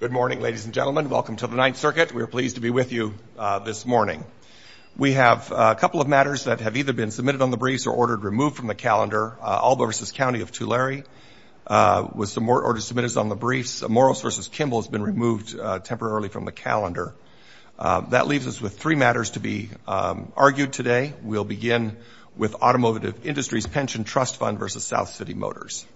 Good morning, ladies and gentlemen. Welcome to the Ninth Circuit. We are pleased to be with you this morning. We have a couple of matters that have either been submitted on the briefs or ordered removed from the calendar. Albo v. County of Tulare was ordered submitted on the briefs. Morales v. Kimball has been removed temporarily from the calendar. That leaves us with three matters to be argued today. We'll begin with Automotive Industries Pension Trust Fund v. South City Motors.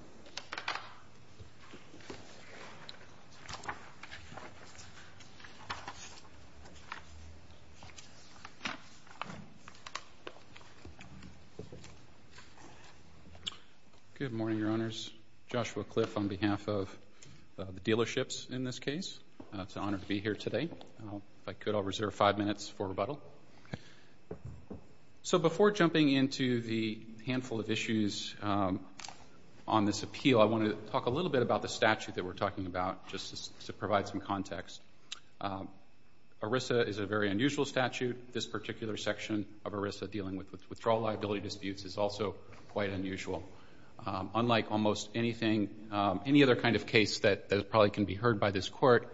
Good morning, Your Honors. Joshua Cliff on behalf of the dealerships in this case. It's an honor to be here today. If I could, I'll reserve five minutes for rebuttal. So before jumping into the handful of issues on this appeal, I want to talk a little bit about the statute that we're talking about just to provide some context. ERISA is a very unusual statute. This particular section of ERISA dealing with withdrawal liability disputes is also quite unusual. Unlike almost anything, any other kind of case that probably can be heard by this Court,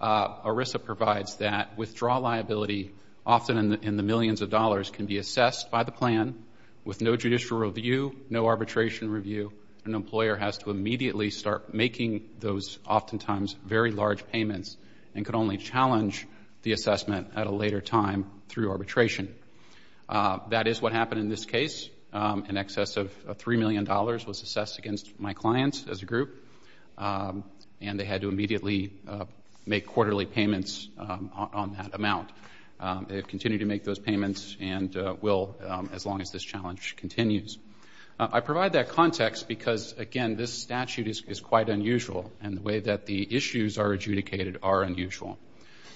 ERISA provides that withdrawal liability, often in the millions of dollars, can be assessed by the plan. With no judicial review, no arbitration review, an employer has to immediately start making those oftentimes very large payments and can only challenge the assessment at a later time through arbitration. That is what happened in this case. In excess of $3 million was assessed against my clients as a group, and they had to immediately make quarterly payments on that amount. They have continued to make those payments and will as long as this challenge continues. I provide that context because, again, this statute is quite unusual, and the way that the issues are adjudicated are unusual.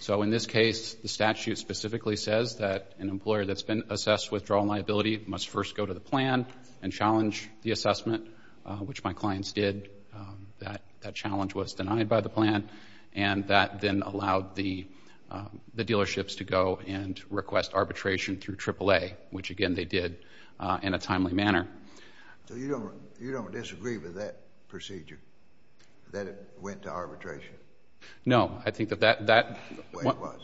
So in this case, the statute specifically says that an employer that's been assessed withdrawal liability must first go to the plan and challenge the assessment, which my clients did. That challenge was denied by the plan, and that then allowed the dealerships to go and request arbitration through AAA, which, again, they did in a timely manner. So you don't disagree with that procedure, that it went to arbitration? No. I think that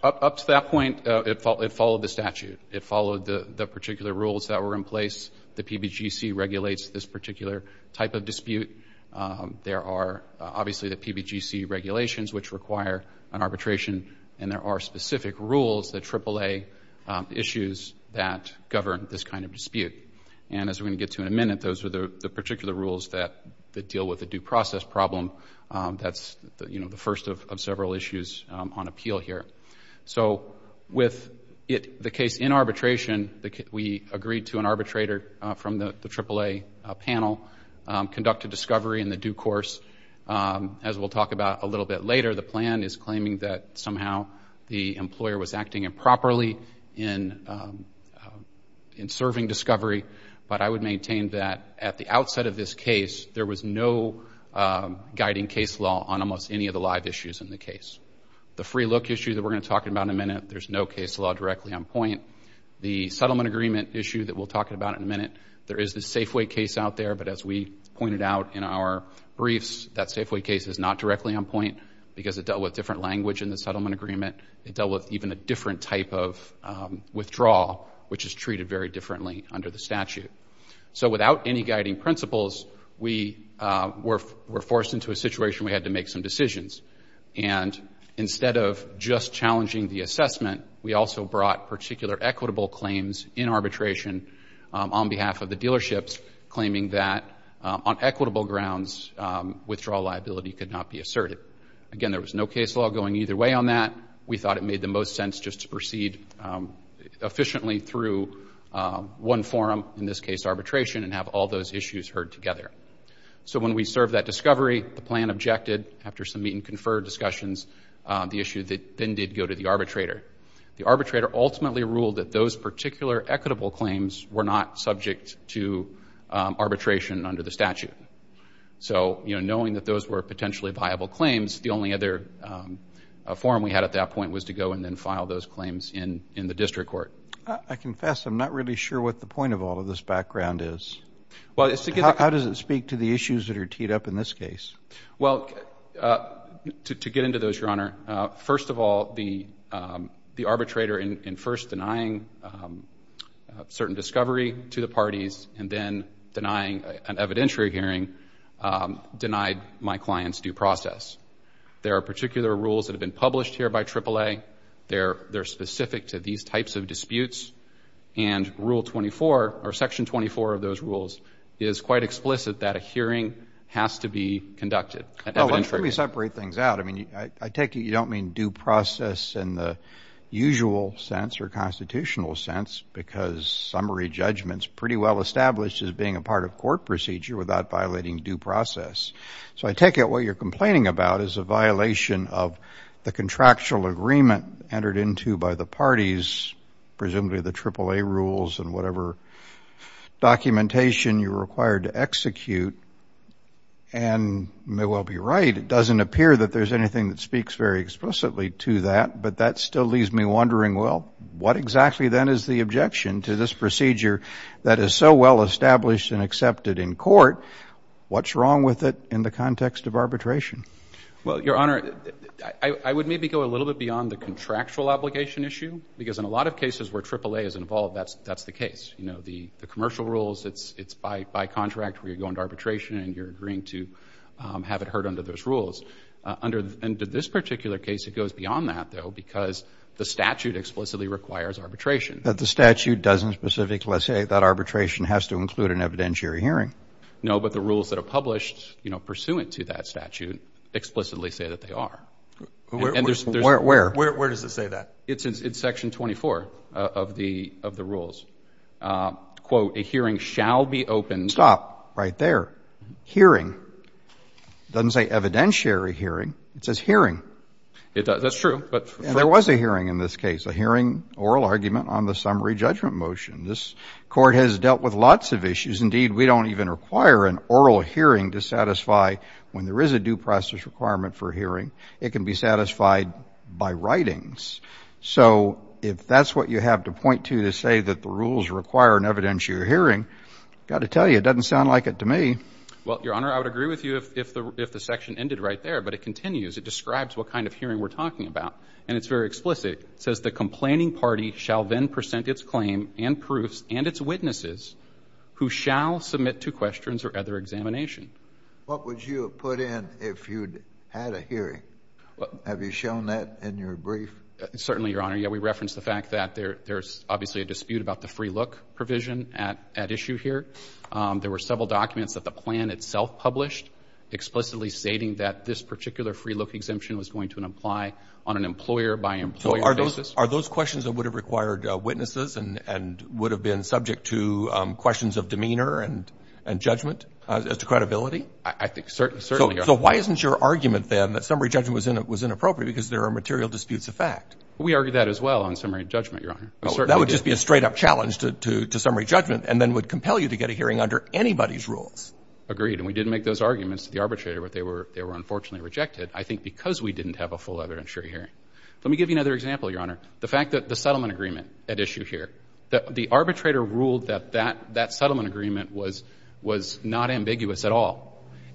up to that point, it followed the statute. It followed the particular rules that were in place. The PBGC regulates this particular type of dispute. There are obviously the PBGC regulations, which require an arbitration, and there are specific rules, the AAA issues, that govern this kind of dispute. And as we're going to get to in a minute, those are the particular rules that deal with the due process problem. That's the first of several issues on appeal here. So with the case in arbitration, we agreed to an arbitrator from the AAA panel conduct a discovery in the due course. As we'll talk about a little bit later, the plan is claiming that somehow the employer was acting improperly in serving discovery, but I would maintain that at the outset of this case, there was no guiding case law on almost any of the live issues in the case. The free look issue that we're going to talk about in a minute, there's no case law directly on point. The settlement agreement issue that we'll talk about in a minute, there is the Safeway case out there, but as we pointed out in our briefs, that Safeway case is not directly on point because it dealt with different language in the settlement agreement. It dealt with even a different type of withdrawal, which is treated very differently under the statute. So without any guiding principles, we were forced into a situation where we had to make some decisions. And instead of just challenging the assessment, we also brought particular equitable claims in arbitration on behalf of the dealerships, claiming that on equitable grounds, withdrawal liability could not be asserted. Again, there was no case law going either way on that. We thought it made the most sense just to proceed efficiently through one forum, in this case arbitration, and have all those issues heard together. So when we served that discovery, the plan objected, after some meet and confer discussions, the issue that then did go to the arbitrator. The arbitrator ultimately ruled that those particular equitable claims were not subject to arbitration under the statute. So, you know, knowing that those were potentially viable claims, the only other forum we had at that point was to go and then file those claims in the district court. I confess I'm not really sure what the point of all of this background is. How does it speak to the issues that are teed up in this case? Well, to get into those, Your Honor, first of all, the arbitrator in first denying certain discovery to the parties and then denying an evidentiary hearing denied my client's due process. There are particular rules that have been published here by AAA. They're specific to these types of disputes. And Rule 24, or Section 24 of those rules, is quite explicit that a hearing has to be conducted. Well, let's really separate things out. I mean, I take it you don't mean due process in the usual sense or constitutional sense because summary judgment is pretty well established as being a part of court procedure without violating due process. So I take it what you're complaining about is a violation of the contractual agreement entered into by the parties, presumably the AAA rules and whatever documentation you're required to execute. And you may well be right. It doesn't appear that there's anything that speaks very explicitly to that. But that still leaves me wondering, well, what exactly then is the objection to this procedure that is so well established and accepted in court? What's wrong with it in the context of arbitration? Well, Your Honor, I would maybe go a little bit beyond the contractual obligation issue because in a lot of cases where AAA is involved, that's the case. You know, the commercial rules, it's by contract where you're going to arbitration and you're agreeing to have it heard under those rules. Under this particular case, it goes beyond that, though, because the statute explicitly requires arbitration. But the statute doesn't specifically say that arbitration has to include an evidentiary hearing. No, but the rules that are published, you know, pursuant to that statute explicitly say that they are. Where does it say that? It's in section 24 of the rules. Quote, a hearing shall be opened. Stop right there. Hearing. It doesn't say evidentiary hearing. It says hearing. That's true. And there was a hearing in this case, a hearing oral argument on the summary judgment motion. This Court has dealt with lots of issues. Indeed, we don't even require an oral hearing to satisfy when there is a due process requirement for hearing. It can be satisfied by writings. So if that's what you have to point to to say that the rules require an evidentiary hearing, I've got to tell you, it doesn't sound like it to me. Well, Your Honor, I would agree with you if the section ended right there. But it continues. It describes what kind of hearing we're talking about. And it's very explicit. It says the complaining party shall then present its claim and proofs and its witnesses who shall submit to questions or other examination. What would you have put in if you had a hearing? Have you shown that in your brief? Certainly, Your Honor. Yeah, we referenced the fact that there's obviously a dispute about the free look provision at issue here. There were several documents that the plan itself published explicitly stating that this particular free look exemption was going to apply on an employer-by- employer basis. So are those questions that would have required witnesses and would have been subject to questions of demeanor and judgment as to credibility? I think certainly. So why isn't your argument, then, that summary judgment was inappropriate because there are material disputes of fact? We argued that as well on summary judgment, Your Honor. That would just be a straight-up challenge to summary judgment and then would compel you to get a hearing under anybody's rules. Agreed. And we didn't make those arguments to the arbitrator, but they were unfortunately rejected, I think because we didn't have a full evidence-sharing hearing. Let me give you another example, Your Honor. The fact that the settlement agreement at issue here, the arbitrator ruled that that settlement agreement was not ambiguous at all.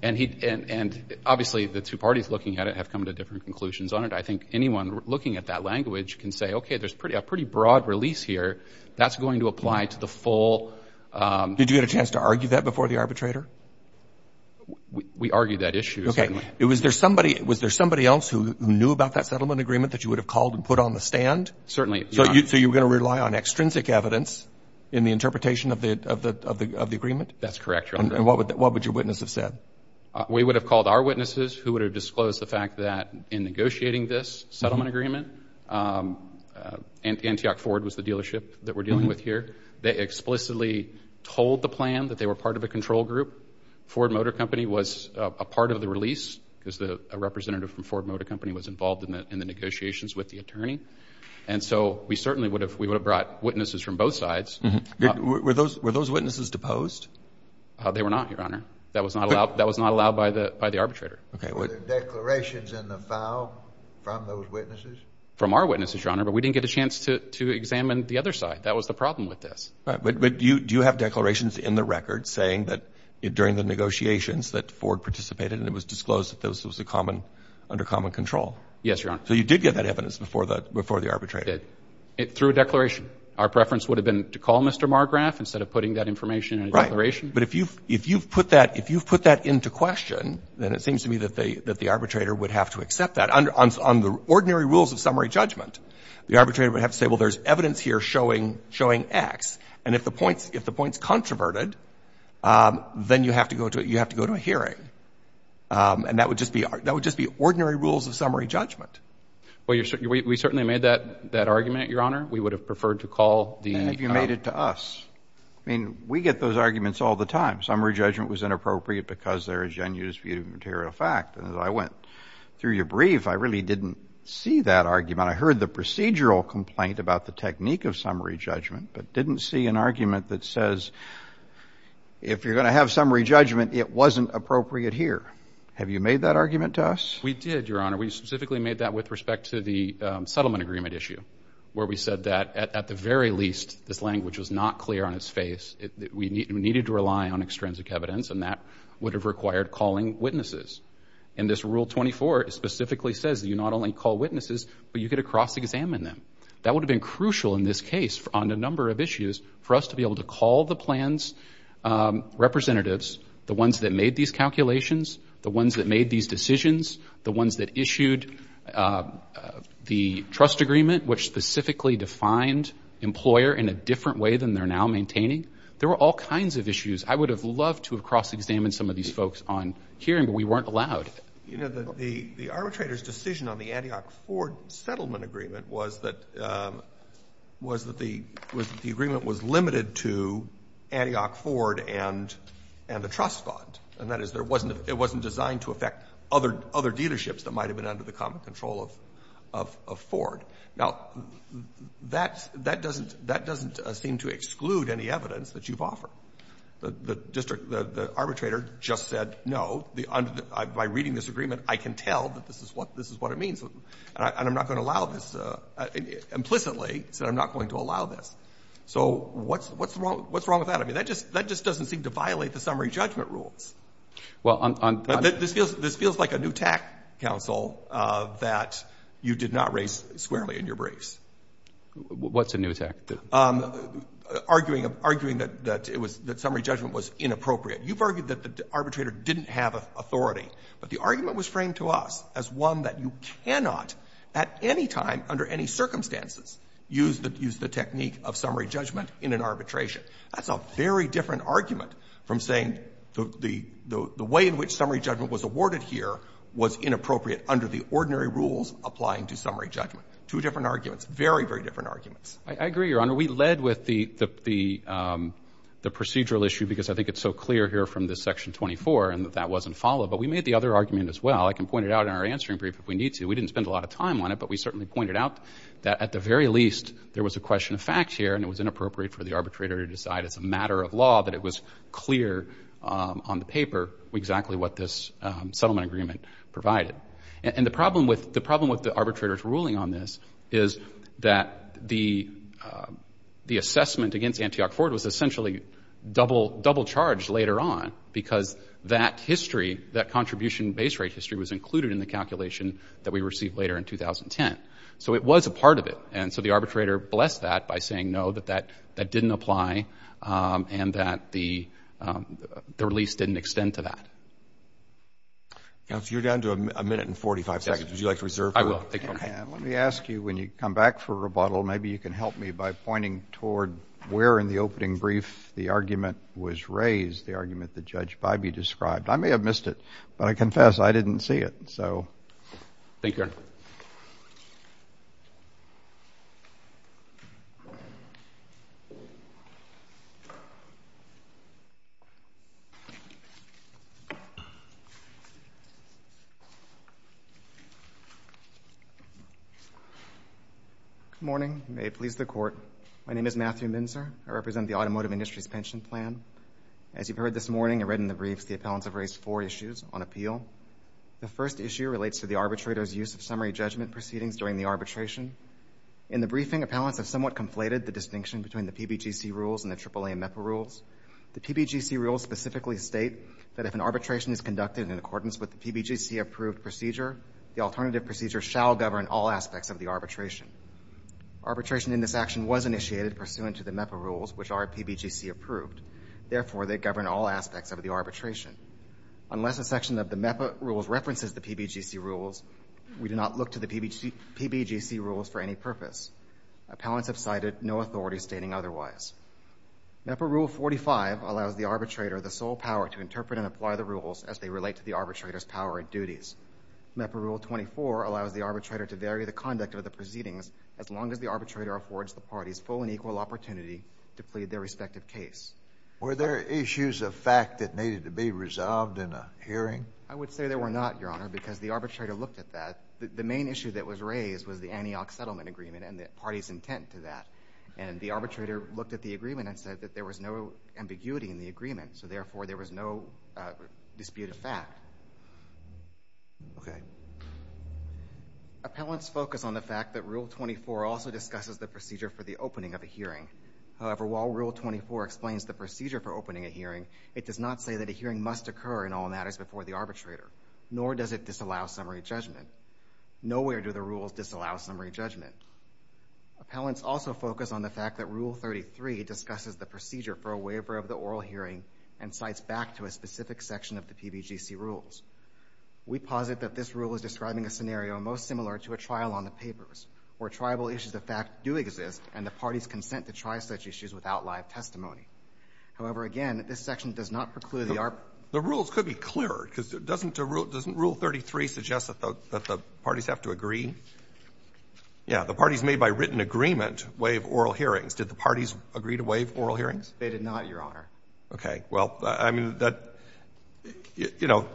And obviously the two parties looking at it have come to different conclusions on it. I think anyone looking at that language can say, okay, there's a pretty broad release here. That's going to apply to the full. Did you get a chance to argue that before the arbitrator? We argued that issue, certainly. Okay. Was there somebody else who knew about that settlement agreement that you would have called and put on the stand? Certainly, Your Honor. So you were going to rely on extrinsic evidence in the interpretation of the agreement? That's correct, Your Honor. And what would your witness have said? We would have called our witnesses who would have disclosed the fact that in negotiating this settlement agreement, Antioch Ford was the dealership that we're dealing with here. They explicitly told the plan that they were part of a control group. Ford Motor Company was a part of the release because a representative from Ford Motor Company was involved in the negotiations with the attorney. And so we certainly would have brought witnesses from both sides. Were those witnesses deposed? They were not, Your Honor. That was not allowed by the arbitrator. Okay. Were there declarations in the file from those witnesses? From our witnesses, Your Honor, but we didn't get a chance to examine the other side. That was the problem with this. But do you have declarations in the record saying that during the negotiations that Ford participated and it was disclosed that this was under common control? Yes, Your Honor. So you did get that evidence before the arbitrator? I did. Through a declaration. Our preference would have been to call Mr. Margrave instead of putting that in a declaration. But if you've put that into question, then it seems to me that the arbitrator would have to accept that. On the ordinary rules of summary judgment, the arbitrator would have to say, well, there's evidence here showing X. And if the point is controverted, then you have to go to a hearing. And that would just be ordinary rules of summary judgment. Well, we certainly made that argument, Your Honor. We would have preferred to call the — And if you made it to us. I mean, we get those arguments all the time. Summary judgment was inappropriate because there is genuine disputed material fact. And as I went through your brief, I really didn't see that argument. I heard the procedural complaint about the technique of summary judgment, but didn't see an argument that says if you're going to have summary judgment, it wasn't appropriate here. Have you made that argument to us? We did, Your Honor. We specifically made that with respect to the settlement agreement issue, where we said that, at the very least, this language was not clear on its face. We needed to rely on extrinsic evidence, and that would have required calling witnesses. And this Rule 24 specifically says that you not only call witnesses, but you get to cross-examine them. That would have been crucial in this case on a number of issues for us to be able to call the plans representatives, the ones that made these calculations, the ones that made these decisions, the ones that issued the trust agreement, which specifically defined employer in a different way than they're now maintaining. There were all kinds of issues. I would have loved to have cross-examined some of these folks on hearing, but we weren't allowed. You know, the arbitrator's decision on the Antioch-Ford settlement agreement was that the agreement was limited to Antioch-Ford and the trust bond. And that is, it wasn't designed to affect other dealerships that might have been under the common control of Ford. Now, that doesn't seem to exclude any evidence that you've offered. The district, the arbitrator just said, no, by reading this agreement, I can tell that this is what it means, and I'm not going to allow this. Implicitly, he said, I'm not going to allow this. So what's wrong with that? I mean, that just doesn't seem to violate the summary judgment rules. This feels like a new tack, counsel, that you did not raise squarely in your briefs. What's a new tack? Arguing that summary judgment was inappropriate. You've argued that the arbitrator didn't have authority, but the argument was framed to us as one that you cannot at any time, under any circumstances, use the technique of summary judgment in an arbitration. That's a very different argument from saying the way in which summary judgment was awarded here was inappropriate under the ordinary rules applying to summary judgment. Two different arguments. Very, very different arguments. I agree, Your Honor. We led with the procedural issue because I think it's so clear here from this section 24 and that that wasn't followed. But we made the other argument as well. I can point it out in our answering brief if we need to. We didn't spend a lot of time on it, but we certainly pointed out that at the very least, there was a question of fact here and it was inappropriate for the arbitrator to decide as a matter of law that it was clear on the paper exactly what this settlement agreement provided. And the problem with the arbitrator's ruling on this is that the assessment against Antioch-Ford was essentially double-charged later on because that history, that contribution base rate history was included in the calculation that we received later in 2010. So it was a part of it. And so the arbitrator blessed that by saying no, that that didn't apply and that the release didn't extend to that. Counsel, you're down to a minute and 45 seconds. Would you like to reserve that? I will. Thank you, Your Honor. Let me ask you when you come back for rebuttal, maybe you can help me by pointing toward where in the opening brief the argument was raised, the argument that Judge Bybee described. I may have missed it, but I confess I didn't see it. Thank you, Your Honor. Good morning. May it please the Court. My name is Matthew Minzer. I represent the automotive industry's pension plan. As you've heard this morning and read in the briefs, the appellants have raised four issues on appeal. The first issue relates to the arbitrator's use of summary judgment proceedings during the arbitration. In the briefing, appellants have somewhat conflated the distinction between the PBGC rules and the AAA MEPA rules. The PBGC rules specifically state that if an arbitration is conducted in accordance with the PBGC-approved procedure, the alternative procedure shall govern all aspects of the arbitration. Arbitration in this action was initiated pursuant to the MEPA rules, which are PBGC-approved. Therefore, they govern all aspects of the arbitration. Unless a section of the MEPA rules references the PBGC rules, we do not look to the PBGC rules for any purpose. Appellants have cited no authority stating otherwise. MEPA Rule 45 allows the arbitrator the sole power to interpret and apply the rules as they relate to the arbitrator's power and duties. MEPA Rule 24 allows the arbitrator to vary the conduct of the proceedings as long as the arbitrator affords the parties full and equal opportunity to plead their respective case. Were there issues of fact that needed to be resolved in a hearing? I would say there were not, Your Honor, because the arbitrator looked at that. The main issue that was raised was the Antioch Settlement Agreement and the party's intent to that. And the arbitrator looked at the agreement and said that there was no ambiguity in the agreement, so therefore there was no dispute of fact. Okay. Appellants focus on the fact that Rule 24 also discusses the procedure for the opening of a hearing. However, while Rule 24 explains the procedure for opening a hearing, it does not say that a hearing must occur in all matters before the arbitrator, nor does it disallow summary judgment. Nowhere do the rules disallow summary judgment. Appellants also focus on the fact that Rule 33 discusses the procedure for a waiver of the oral hearing and cites back to a specific section of the PBGC rules. We posit that this rule is describing a scenario most similar to a trial on the papers, where tribal issues of fact do exist and the parties consent to try such issues without live testimony. However, again, this section does not preclude the arbitration. The rules could be clearer, because doesn't Rule 33 suggest that the parties have to agree? Yeah. The parties made by written agreement waive oral hearings. Did the parties agree to waive oral hearings? They did not, Your Honor. Okay. Well, I mean, that, you know,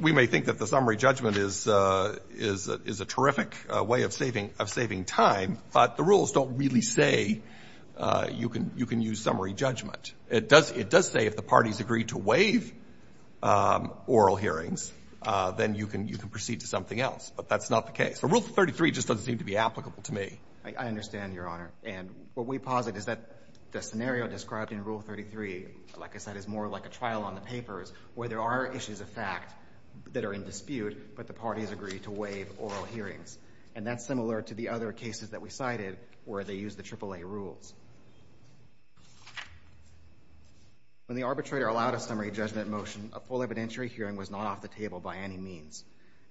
we may think that the summary judgment is a terrific way of saving time, but the rules don't really say you can use summary judgment. It does say if the parties agree to waive oral hearings, then you can proceed to something else. But that's not the case. So Rule 33 just doesn't seem to be applicable to me. I understand, Your Honor. And what we posit is that the scenario described in Rule 33, like I said, is more like a trial on the papers, where there are issues of fact that are in dispute, but the parties agree to waive oral hearings. And that's similar to the other cases that we cited, where they use the AAA rules. When the arbitrator allowed a summary judgment motion, a full evidentiary hearing was not off the table by any means.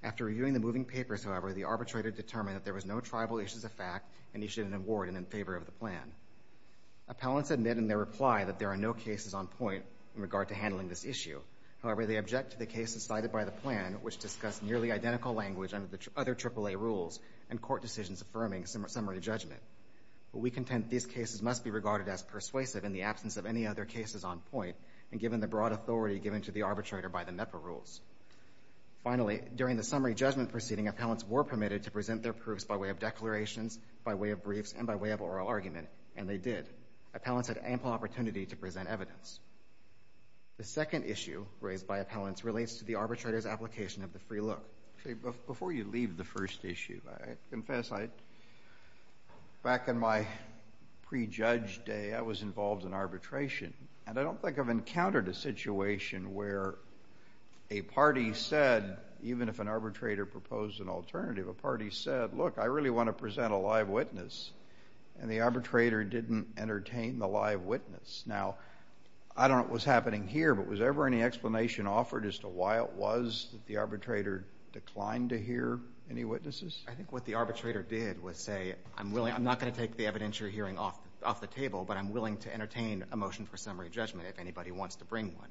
After reviewing the moving papers, however, the arbitrator determined that there was no tribal issues of fact, and he should not award it in favor of the plan. Appellants admit in their reply that there are no cases on point in regard to handling this issue. However, they object to the cases cited by the plan, which discuss nearly identical language under the other AAA rules and court decisions affirming summary judgment. But we contend these cases must be regarded as persuasive in the absence of any other cases on point and given the broad authority given to the arbitrator by the MEPA rules. Finally, during the summary judgment proceeding, appellants were permitted to present their proofs by way of declarations, by way of briefs, and by way of oral argument, and they did. Appellants had ample opportunity to present evidence. The second issue raised by appellants relates to the arbitrator's application of the free look. Before you leave the first issue, I confess, back in my pre-judge day, I was involved in arbitration, and I don't think I've encountered a situation where a party said, even if an arbitrator proposed an alternative, a party said, look, I really want to present a live witness, and the arbitrator didn't entertain the live witness. Now, I don't know what's happening here, but was there ever any explanation offered as to why it was that the arbitrator declined to hear any witnesses? I think what the arbitrator did was say, I'm not going to take the evidence you're hearing off the table, but I'm willing to entertain a motion for summary judgment if anybody wants to bring one.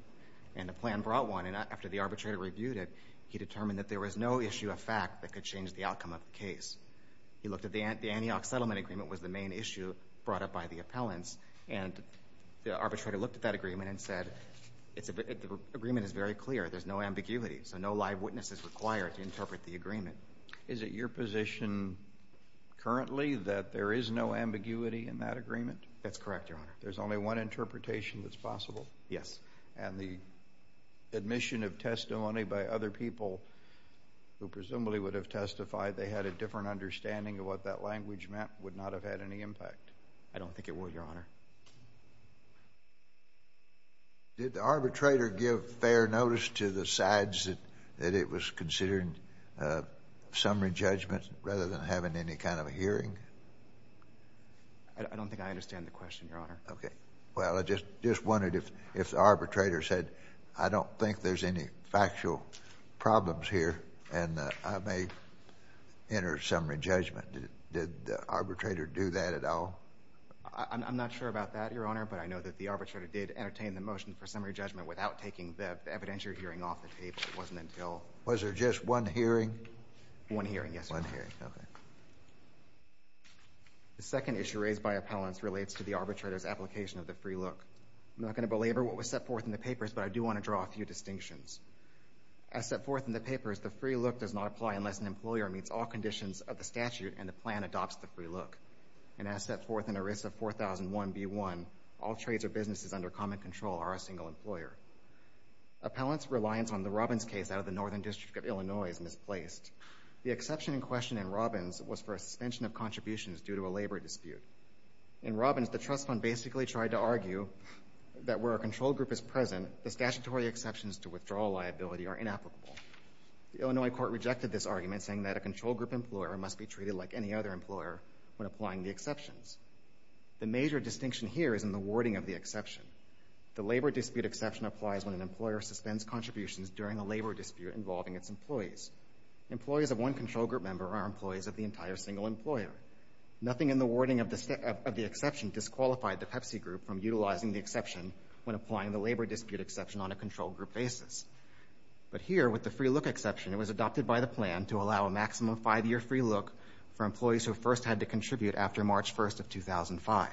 And the plan brought one, and after the arbitrator reviewed it, he determined that there was no issue of fact that could change the outcome of the case. He looked at the Antioch Settlement Agreement was the main issue brought up by the appellants, and the arbitrator looked at that agreement and said, the agreement is very clear. There's no ambiguity, so no live witness is required to interpret the agreement. Is it your position currently that there is no ambiguity in that agreement? That's correct, Your Honor. There's only one interpretation that's possible? Yes. And the admission of testimony by other people who presumably would have testified they had a different understanding of what that language meant would not have had any impact? I don't think it would, Your Honor. Did the arbitrator give fair notice to the sides that it was considering summary judgment rather than having any kind of a hearing? I don't think I understand the question, Your Honor. Okay. Well, I just wondered if the arbitrator said, I don't think there's any factual problems here, and I may enter summary judgment. Did the arbitrator do that at all? I'm not sure about that, Your Honor, but I know that the arbitrator did entertain the motion for summary judgment without taking the evidentiary hearing off the table. It wasn't until... Was there just one hearing? One hearing, yes, Your Honor. One hearing. Okay. The second issue raised by appellants relates to the arbitrator's application of the free look. I'm not going to belabor what was set forth in the papers, but I do want to draw a few distinctions. As set forth in the papers, the free look does not apply unless an employer meets all conditions of the statute and the plan adopts the free look. And as set forth in ERISA 4001B1, all trades or businesses under common control are a single employer. Appellants' reliance on the Robbins case out of the Northern District of Illinois is misplaced. The exception in question in Robbins was for a suspension of contributions due to a labor dispute. In Robbins, the trust fund basically tried to argue that where a control group is present, the statutory exceptions to withdrawal liability are inapplicable. The Illinois court rejected this argument, saying that a control group employer must be treated like any other employer when applying the exceptions. The major distinction here is in the wording of the exception. The labor dispute exception applies when an employer suspends contributions during a labor dispute involving its employees. Employees of one control group member are employees of the entire single employer. Nothing in the wording of the exception disqualified the Pepsi group from utilizing the exception when applying the labor dispute exception on a control group basis. But here, with the free look exception, it was adopted by the plan to allow a maximum five-year free look for employees who first had to contribute after March 1st of 2005.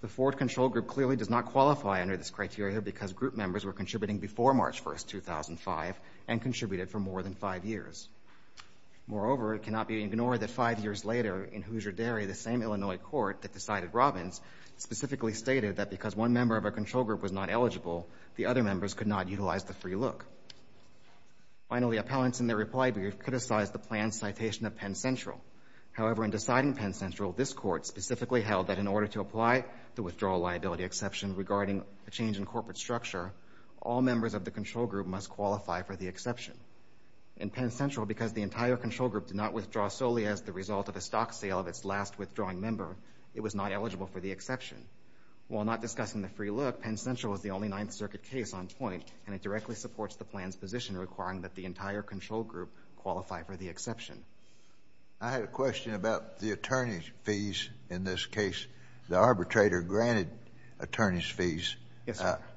The Ford control group clearly does not qualify under this criteria because group members were contributing before March 1st, 2005, and contributed for more than five years. Moreover, it cannot be ignored that five years later, in Hoosier Dairy, the same Illinois court that decided Robbins specifically stated that because one member of a control group was not eligible, the other members could not utilize the free look. Finally, appellants, in their reply brief, criticized the plan's citation of Penn Central. However, in deciding Penn Central, this court specifically held that in order to apply the withdrawal liability exception regarding a change in corporate structure, all members of the control group must qualify for the exception. In Penn Central, because the entire control group did not withdraw solely as the result of a stock sale of its last withdrawing member, it was not eligible for the exception. While not discussing the free look, Penn Central was the only Ninth Circuit case on point, and it directly supports the plan's position requiring that the entire control group qualify for the exception. JUSTICE SCALIA. I had a question about the attorney's fees. In this case, the arbitrator granted attorney's fees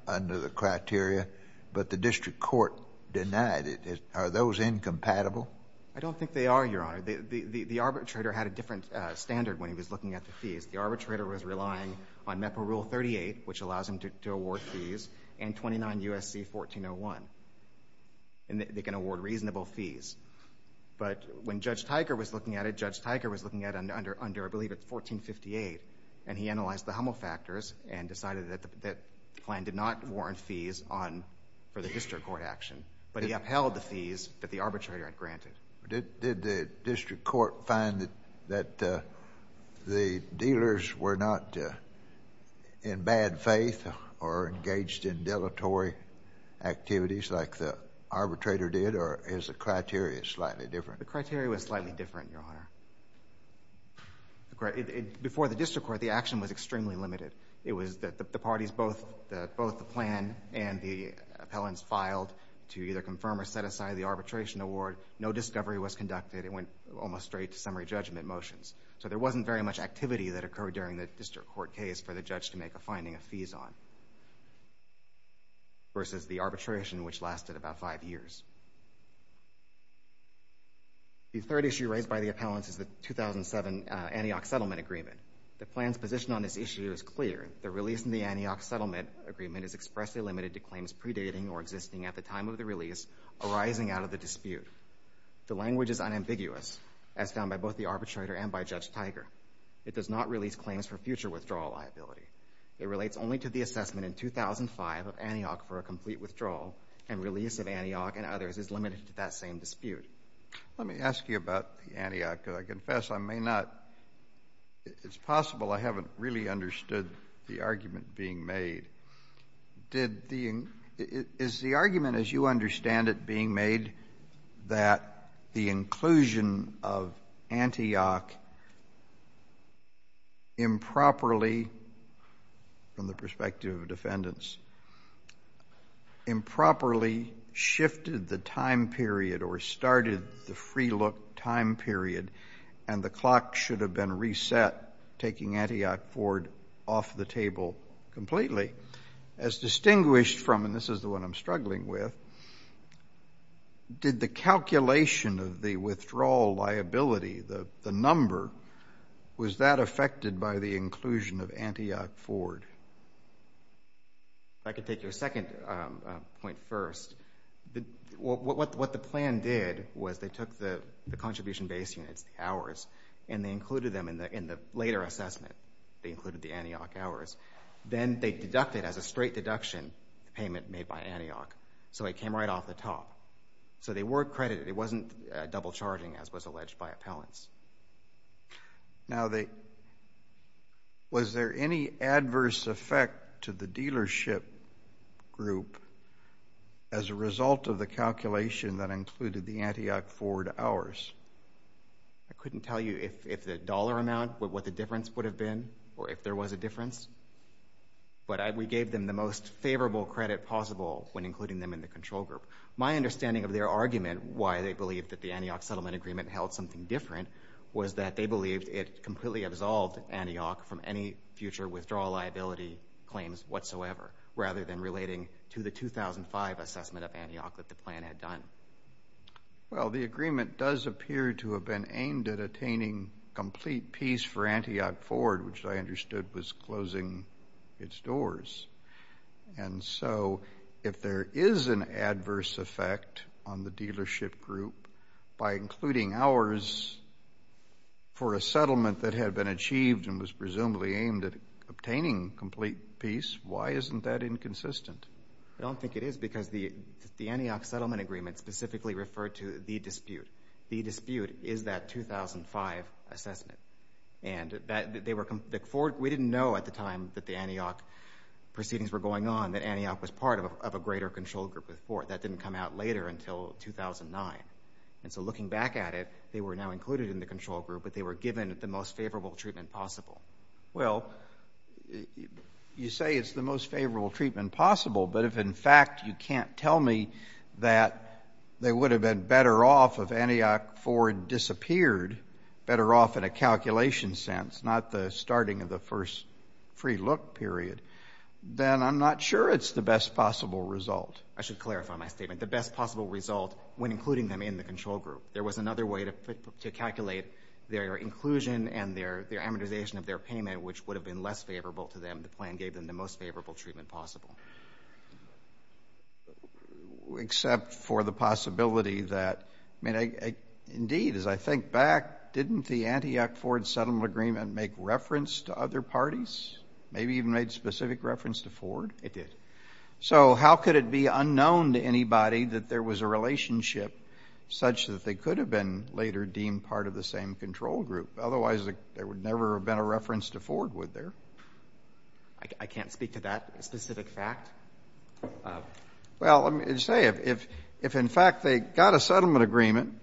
under the criteria, but the district court denied it. Are those incompatible? MR. GOLDBERG. I don't think they are, Your Honor. The arbitrator had a different standard when he was looking at the fees. The arbitrator was relying on MEPA Rule 38, which allows him to award fees, and 29 U.S.C. 1401, and they can award reasonable fees. But when Judge Teicher was looking at it, Judge Teicher was looking at it under, I believe, 1458, and he analyzed the Hummel factors and decided that the plan did not warrant fees for the district court action, but he upheld the fees that the arbitrator had granted. JUSTICE SCALIA. Did the district court find that the dealers were not in bad faith or engaged in deletory activities like the arbitrator did, or is the criteria slightly MR. GOLDBERG. The criteria was slightly different, Your Honor. Before the district court, the action was extremely limited. It was that the parties, both the plan and the appellants, filed to either confirm or set aside the arbitration award. No discovery was conducted. It went almost straight to summary judgment motions. So there wasn't very much activity that occurred during the district court case for the judge to make a finding of fees on versus the arbitration, which lasted about five years. The third issue raised by the appellants is the 2007 Antioch Settlement Agreement. The plan's position on this issue is clear. The release in the Antioch Settlement Agreement is expressly limited to claims predating or existing at the time of the release arising out of the dispute. The language is unambiguous, as found by both the arbitrator and by Judge Teicher. It does not release claims for future withdrawal liability. It relates only to the assessment in 2005 of Antioch for a complete withdrawal, and release of Antioch and others is limited to that same dispute. JUSTICE KENNEDY. Let me ask you about the Antioch, because I confess I may not — it's possible I haven't really understood the argument being made. Did the — is the argument, as you understand it, being made that the inclusion of Antioch improperly, from the perspective of defendants, improperly shifted the time period or started the free-look time period, and the clock should have been reset, taking Antioch forward off the table completely? As distinguished from — and this is the one I'm struggling with — did the calculation of the withdrawal liability, the number, was that affected by the inclusion of Antioch forward? MR. LIEBERMAN. If I could take your second point first, what the plan did was they took the contribution-based units, the hours, and they included them in the later assessment. They included the Antioch hours. Then they deducted as a straight deduction the payment made by Antioch, so it came right off the top. So they were credited. It wasn't double-charging, as was alleged by appellants. CHIEF JUSTICE ROBERTS. Now, they — was there any adverse effect to the dealership group as a result of the calculation that included the Antioch forward hours? MR. LIEBERMAN. I couldn't tell you if the dollar amount, what the difference would have been, or if there was a difference, but we gave them the most favorable credit possible when including them in the control group. My understanding of their argument, why they believed that the Antioch settlement agreement held something different, was that they believed it completely absolved Antioch from any future withdrawal liability claims whatsoever, rather than relating to the 2005 assessment of Antioch that the plan had done. CHIEF JUSTICE ROBERTS. Well, the agreement does appear to have been aimed at attaining complete peace for Antioch forward, which I understood was closing its doors. And so if there is an adverse effect on the dealership group by including hours for a settlement that had been achieved and was presumably aimed at obtaining complete peace, why isn't that inconsistent? MR. LIEBERMAN. I don't think it is, because the Antioch settlement agreement specifically referred to the dispute. The dispute is that 2005 assessment. And we didn't know at the time that the Antioch proceedings were going on that Antioch was part of a greater control group with Ford. That didn't come out later until 2009. And so looking back at it, they were now included in the control group, but they were given the most favorable treatment possible. CHIEF JUSTICE ROBERTS. Well, you say it's the most favorable treatment possible, but if, in fact, you can't tell me that they would have been better off if Antioch Ford disappeared, better off in a calculation sense, not the starting of the first free look period, then I'm not sure it's the best possible result. MR. LIEBERMAN. I should clarify my statement. The best possible result, when including them in the control group, there was another way to calculate their inclusion and their amortization of their payment, which would have been less favorable to them. The plan gave them the most favorable treatment possible. CHIEF JUSTICE ROBERTS. Except for the possibility that, I mean, indeed, as I think back, didn't the Antioch Ford settlement agreement make reference to other parties, maybe even made specific reference to Ford? MR. LIEBERMAN. It did. CHIEF JUSTICE ROBERTS. So how could it be unknown to anybody that there was a relationship such that they could have been later deemed part of the same control group? Otherwise, there would never have been a reference to Ford, would there? LIEBERMAN. I can't speak to that specific fact. CHIEF JUSTICE ROBERTS. Well, let me just say, if in fact they got a settlement agreement,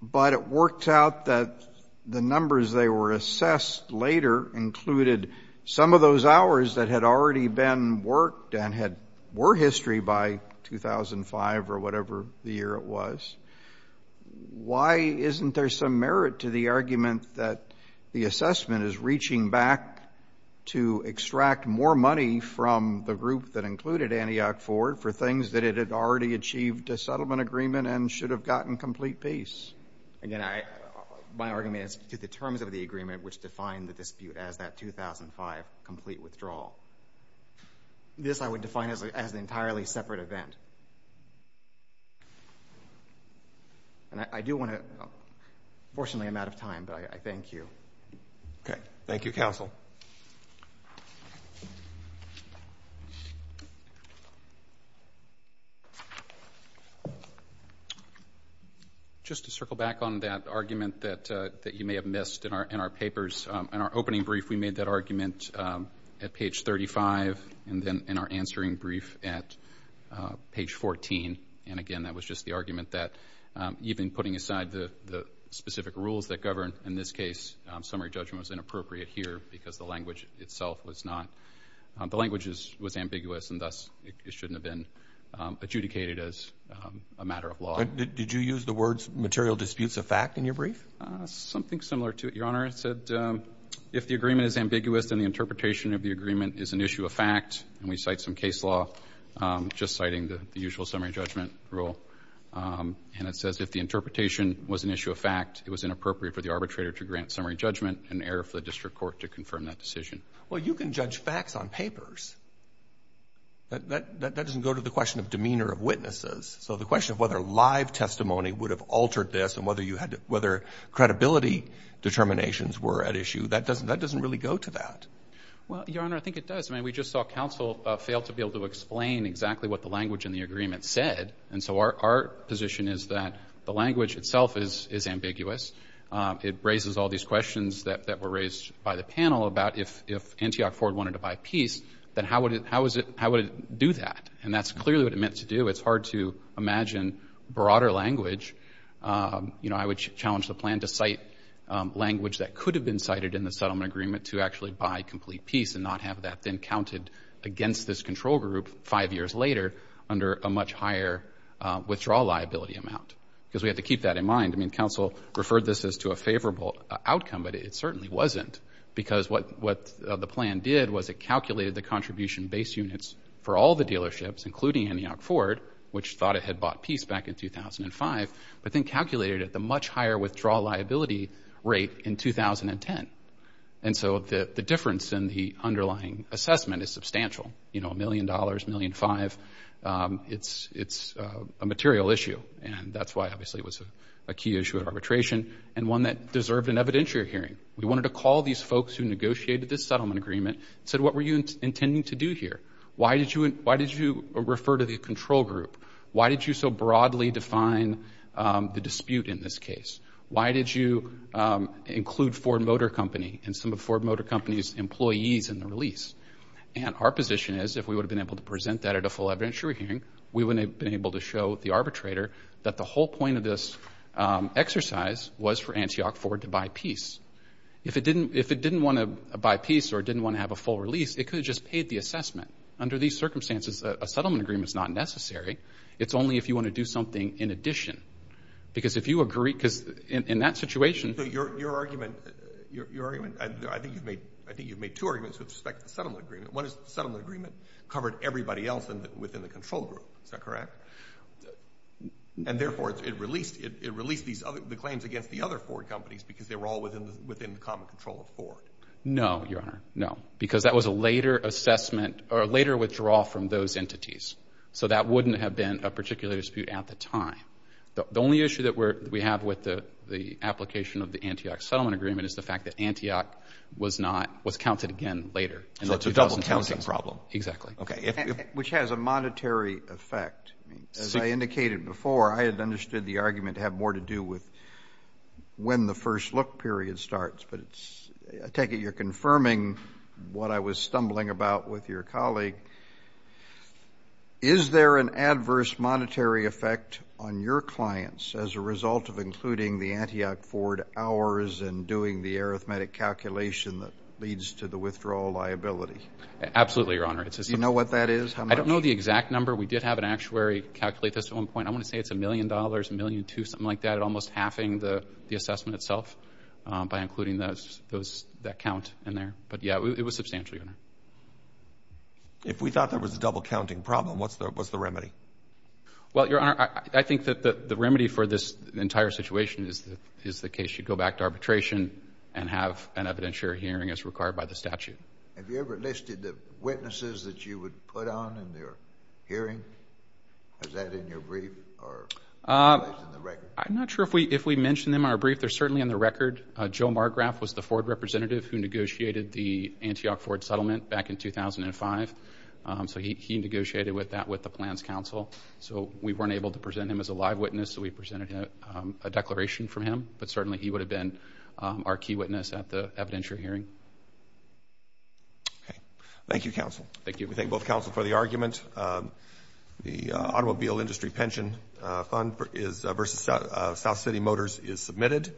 but it worked out that the numbers they were assessed later included some of those hours that had already been worked and were history by 2005 or whatever the year it was, why isn't there some merit to the argument that the assessment is reaching back to extract more money from the group that included Antioch Ford for things that it had already achieved a settlement agreement and should have gotten complete peace? MR. LIEBERMAN. Again, my argument is to the terms of the agreement which define the dispute as that 2005 complete withdrawal. This I would define as an entirely separate event. And I do want to, unfortunately I'm out of time, but I thank you. CHIEF JUSTICE ROBERTS. Okay. Thank you, counsel. MR. LIEBERMAN. Just to circle back on that argument that you may have missed in our papers. In our opening brief, we made that argument at page 35, and then in our answering brief at page 14, and again that was just the argument that even putting aside the specific rules that govern, in this case, summary judgment was inappropriate here because the language itself was not, the language was ambiguous and thus it shouldn't have been adjudicated CHIEF JUSTICE ROBERTS. Did you use the words material disputes of fact in your brief? MR. LIEBERMAN. Something similar to it, Your Honor. It said if the agreement is ambiguous and the interpretation of the agreement is an issue of fact, and we cite some case law just citing the usual summary judgment rule, and it says if the interpretation was an issue of fact, it was inappropriate for the arbitrator to grant summary judgment and error for the district court to confirm CHIEF JUSTICE ROBERTS. Well, you can judge facts on papers. That doesn't go to the question of demeanor of witnesses. So the question of whether live testimony would have altered this and whether you had to, whether credibility determinations were at issue, that doesn't really go to that. MR. LIEBERMAN. I just saw counsel fail to be able to explain exactly what the language in the agreement said. And so our position is that the language itself is ambiguous. It raises all these questions that were raised by the panel about if Antioch Ford wanted to buy peace, then how would it do that? And that's clearly what it meant to do. It's hard to imagine broader language. You know, I would challenge the plan to cite language that could have been cited in the settlement agreement to actually buy complete peace and not have that then counted against this control group five years later under a much higher withdrawal liability amount, because we have to keep that in mind. I mean, counsel referred this as to a favorable outcome, but it certainly wasn't, because what the plan did was it calculated the contribution base units for all the dealerships, including Antioch Ford, which thought it had bought peace back in 2005, but then calculated it the much higher withdrawal liability rate in 2010. And so the difference in the underlying assessment is substantial. You know, $1 million, $1.5 million. It's a material issue, and that's why, obviously, it was a key issue of arbitration and one that deserved an evidentiary hearing. We wanted to call these folks who negotiated this settlement agreement and said, what were you intending to do here? Why did you refer to the control group? Why did you so broadly define the dispute in this case? Why did you include Ford Motor Company and some of Ford Motor Company's employees in the release? And our position is if we would have been able to present that at a full evidentiary hearing, we would have been able to show the arbitrator that the whole point of this exercise was for Antioch Ford to buy peace. If it didn't want to buy peace or didn't want to have a full release, it could have just paid the assessment. Under these circumstances, a settlement agreement is not necessary. It's only if you want to do something in addition. Because if you agree, because in that situation. So your argument, I think you've made two arguments with respect to the settlement agreement. One is the settlement agreement covered everybody else within the control group. Is that correct? And, therefore, it released the claims against the other Ford companies because they were all within the common control of Ford. No, Your Honor, no, because that was a later assessment or a later withdrawal from those entities. So that wouldn't have been a particular dispute at the time. The only issue that we have with the application of the Antioch settlement agreement is the fact that Antioch was not, was counted again later. So it's a double-counting problem. Exactly. Okay. Which has a monetary effect. As I indicated before, I had understood the argument to have more to do with when the first look period starts. But it's, I take it you're confirming what I was stumbling about with your colleague. Is there an adverse monetary effect on your clients as a result of including the Antioch Ford hours and doing the arithmetic calculation that leads to the withdrawal liability? Absolutely, Your Honor. Do you know what that is? I don't know the exact number. We did have an actuary calculate this at one point. I want to say it's a million dollars, a million two, something like that, but almost halving the assessment itself by including that count in there. But, yeah, it was substantial, Your Honor. If we thought there was a double-counting problem, what's the remedy? Well, Your Honor, I think that the remedy for this entire situation is the case you go back to arbitration and have an evidentiary hearing as required by the statute. Have you ever listed the witnesses that you would put on in their hearing? Is that in your brief or in the record? I'm not sure if we mention them in our brief. They're certainly in the record. Joe Margraf was the Ford representative who negotiated the Antioch Ford settlement back in 2005. So he negotiated with that with the Plans Council. So we weren't able to present him as a live witness, so we presented a declaration from him. But certainly he would have been our key witness at the evidentiary hearing. Thank you, counsel. Thank you. We thank both counsel for the argument. The Automobile Industry Pension Fund versus South City Motors is submitted.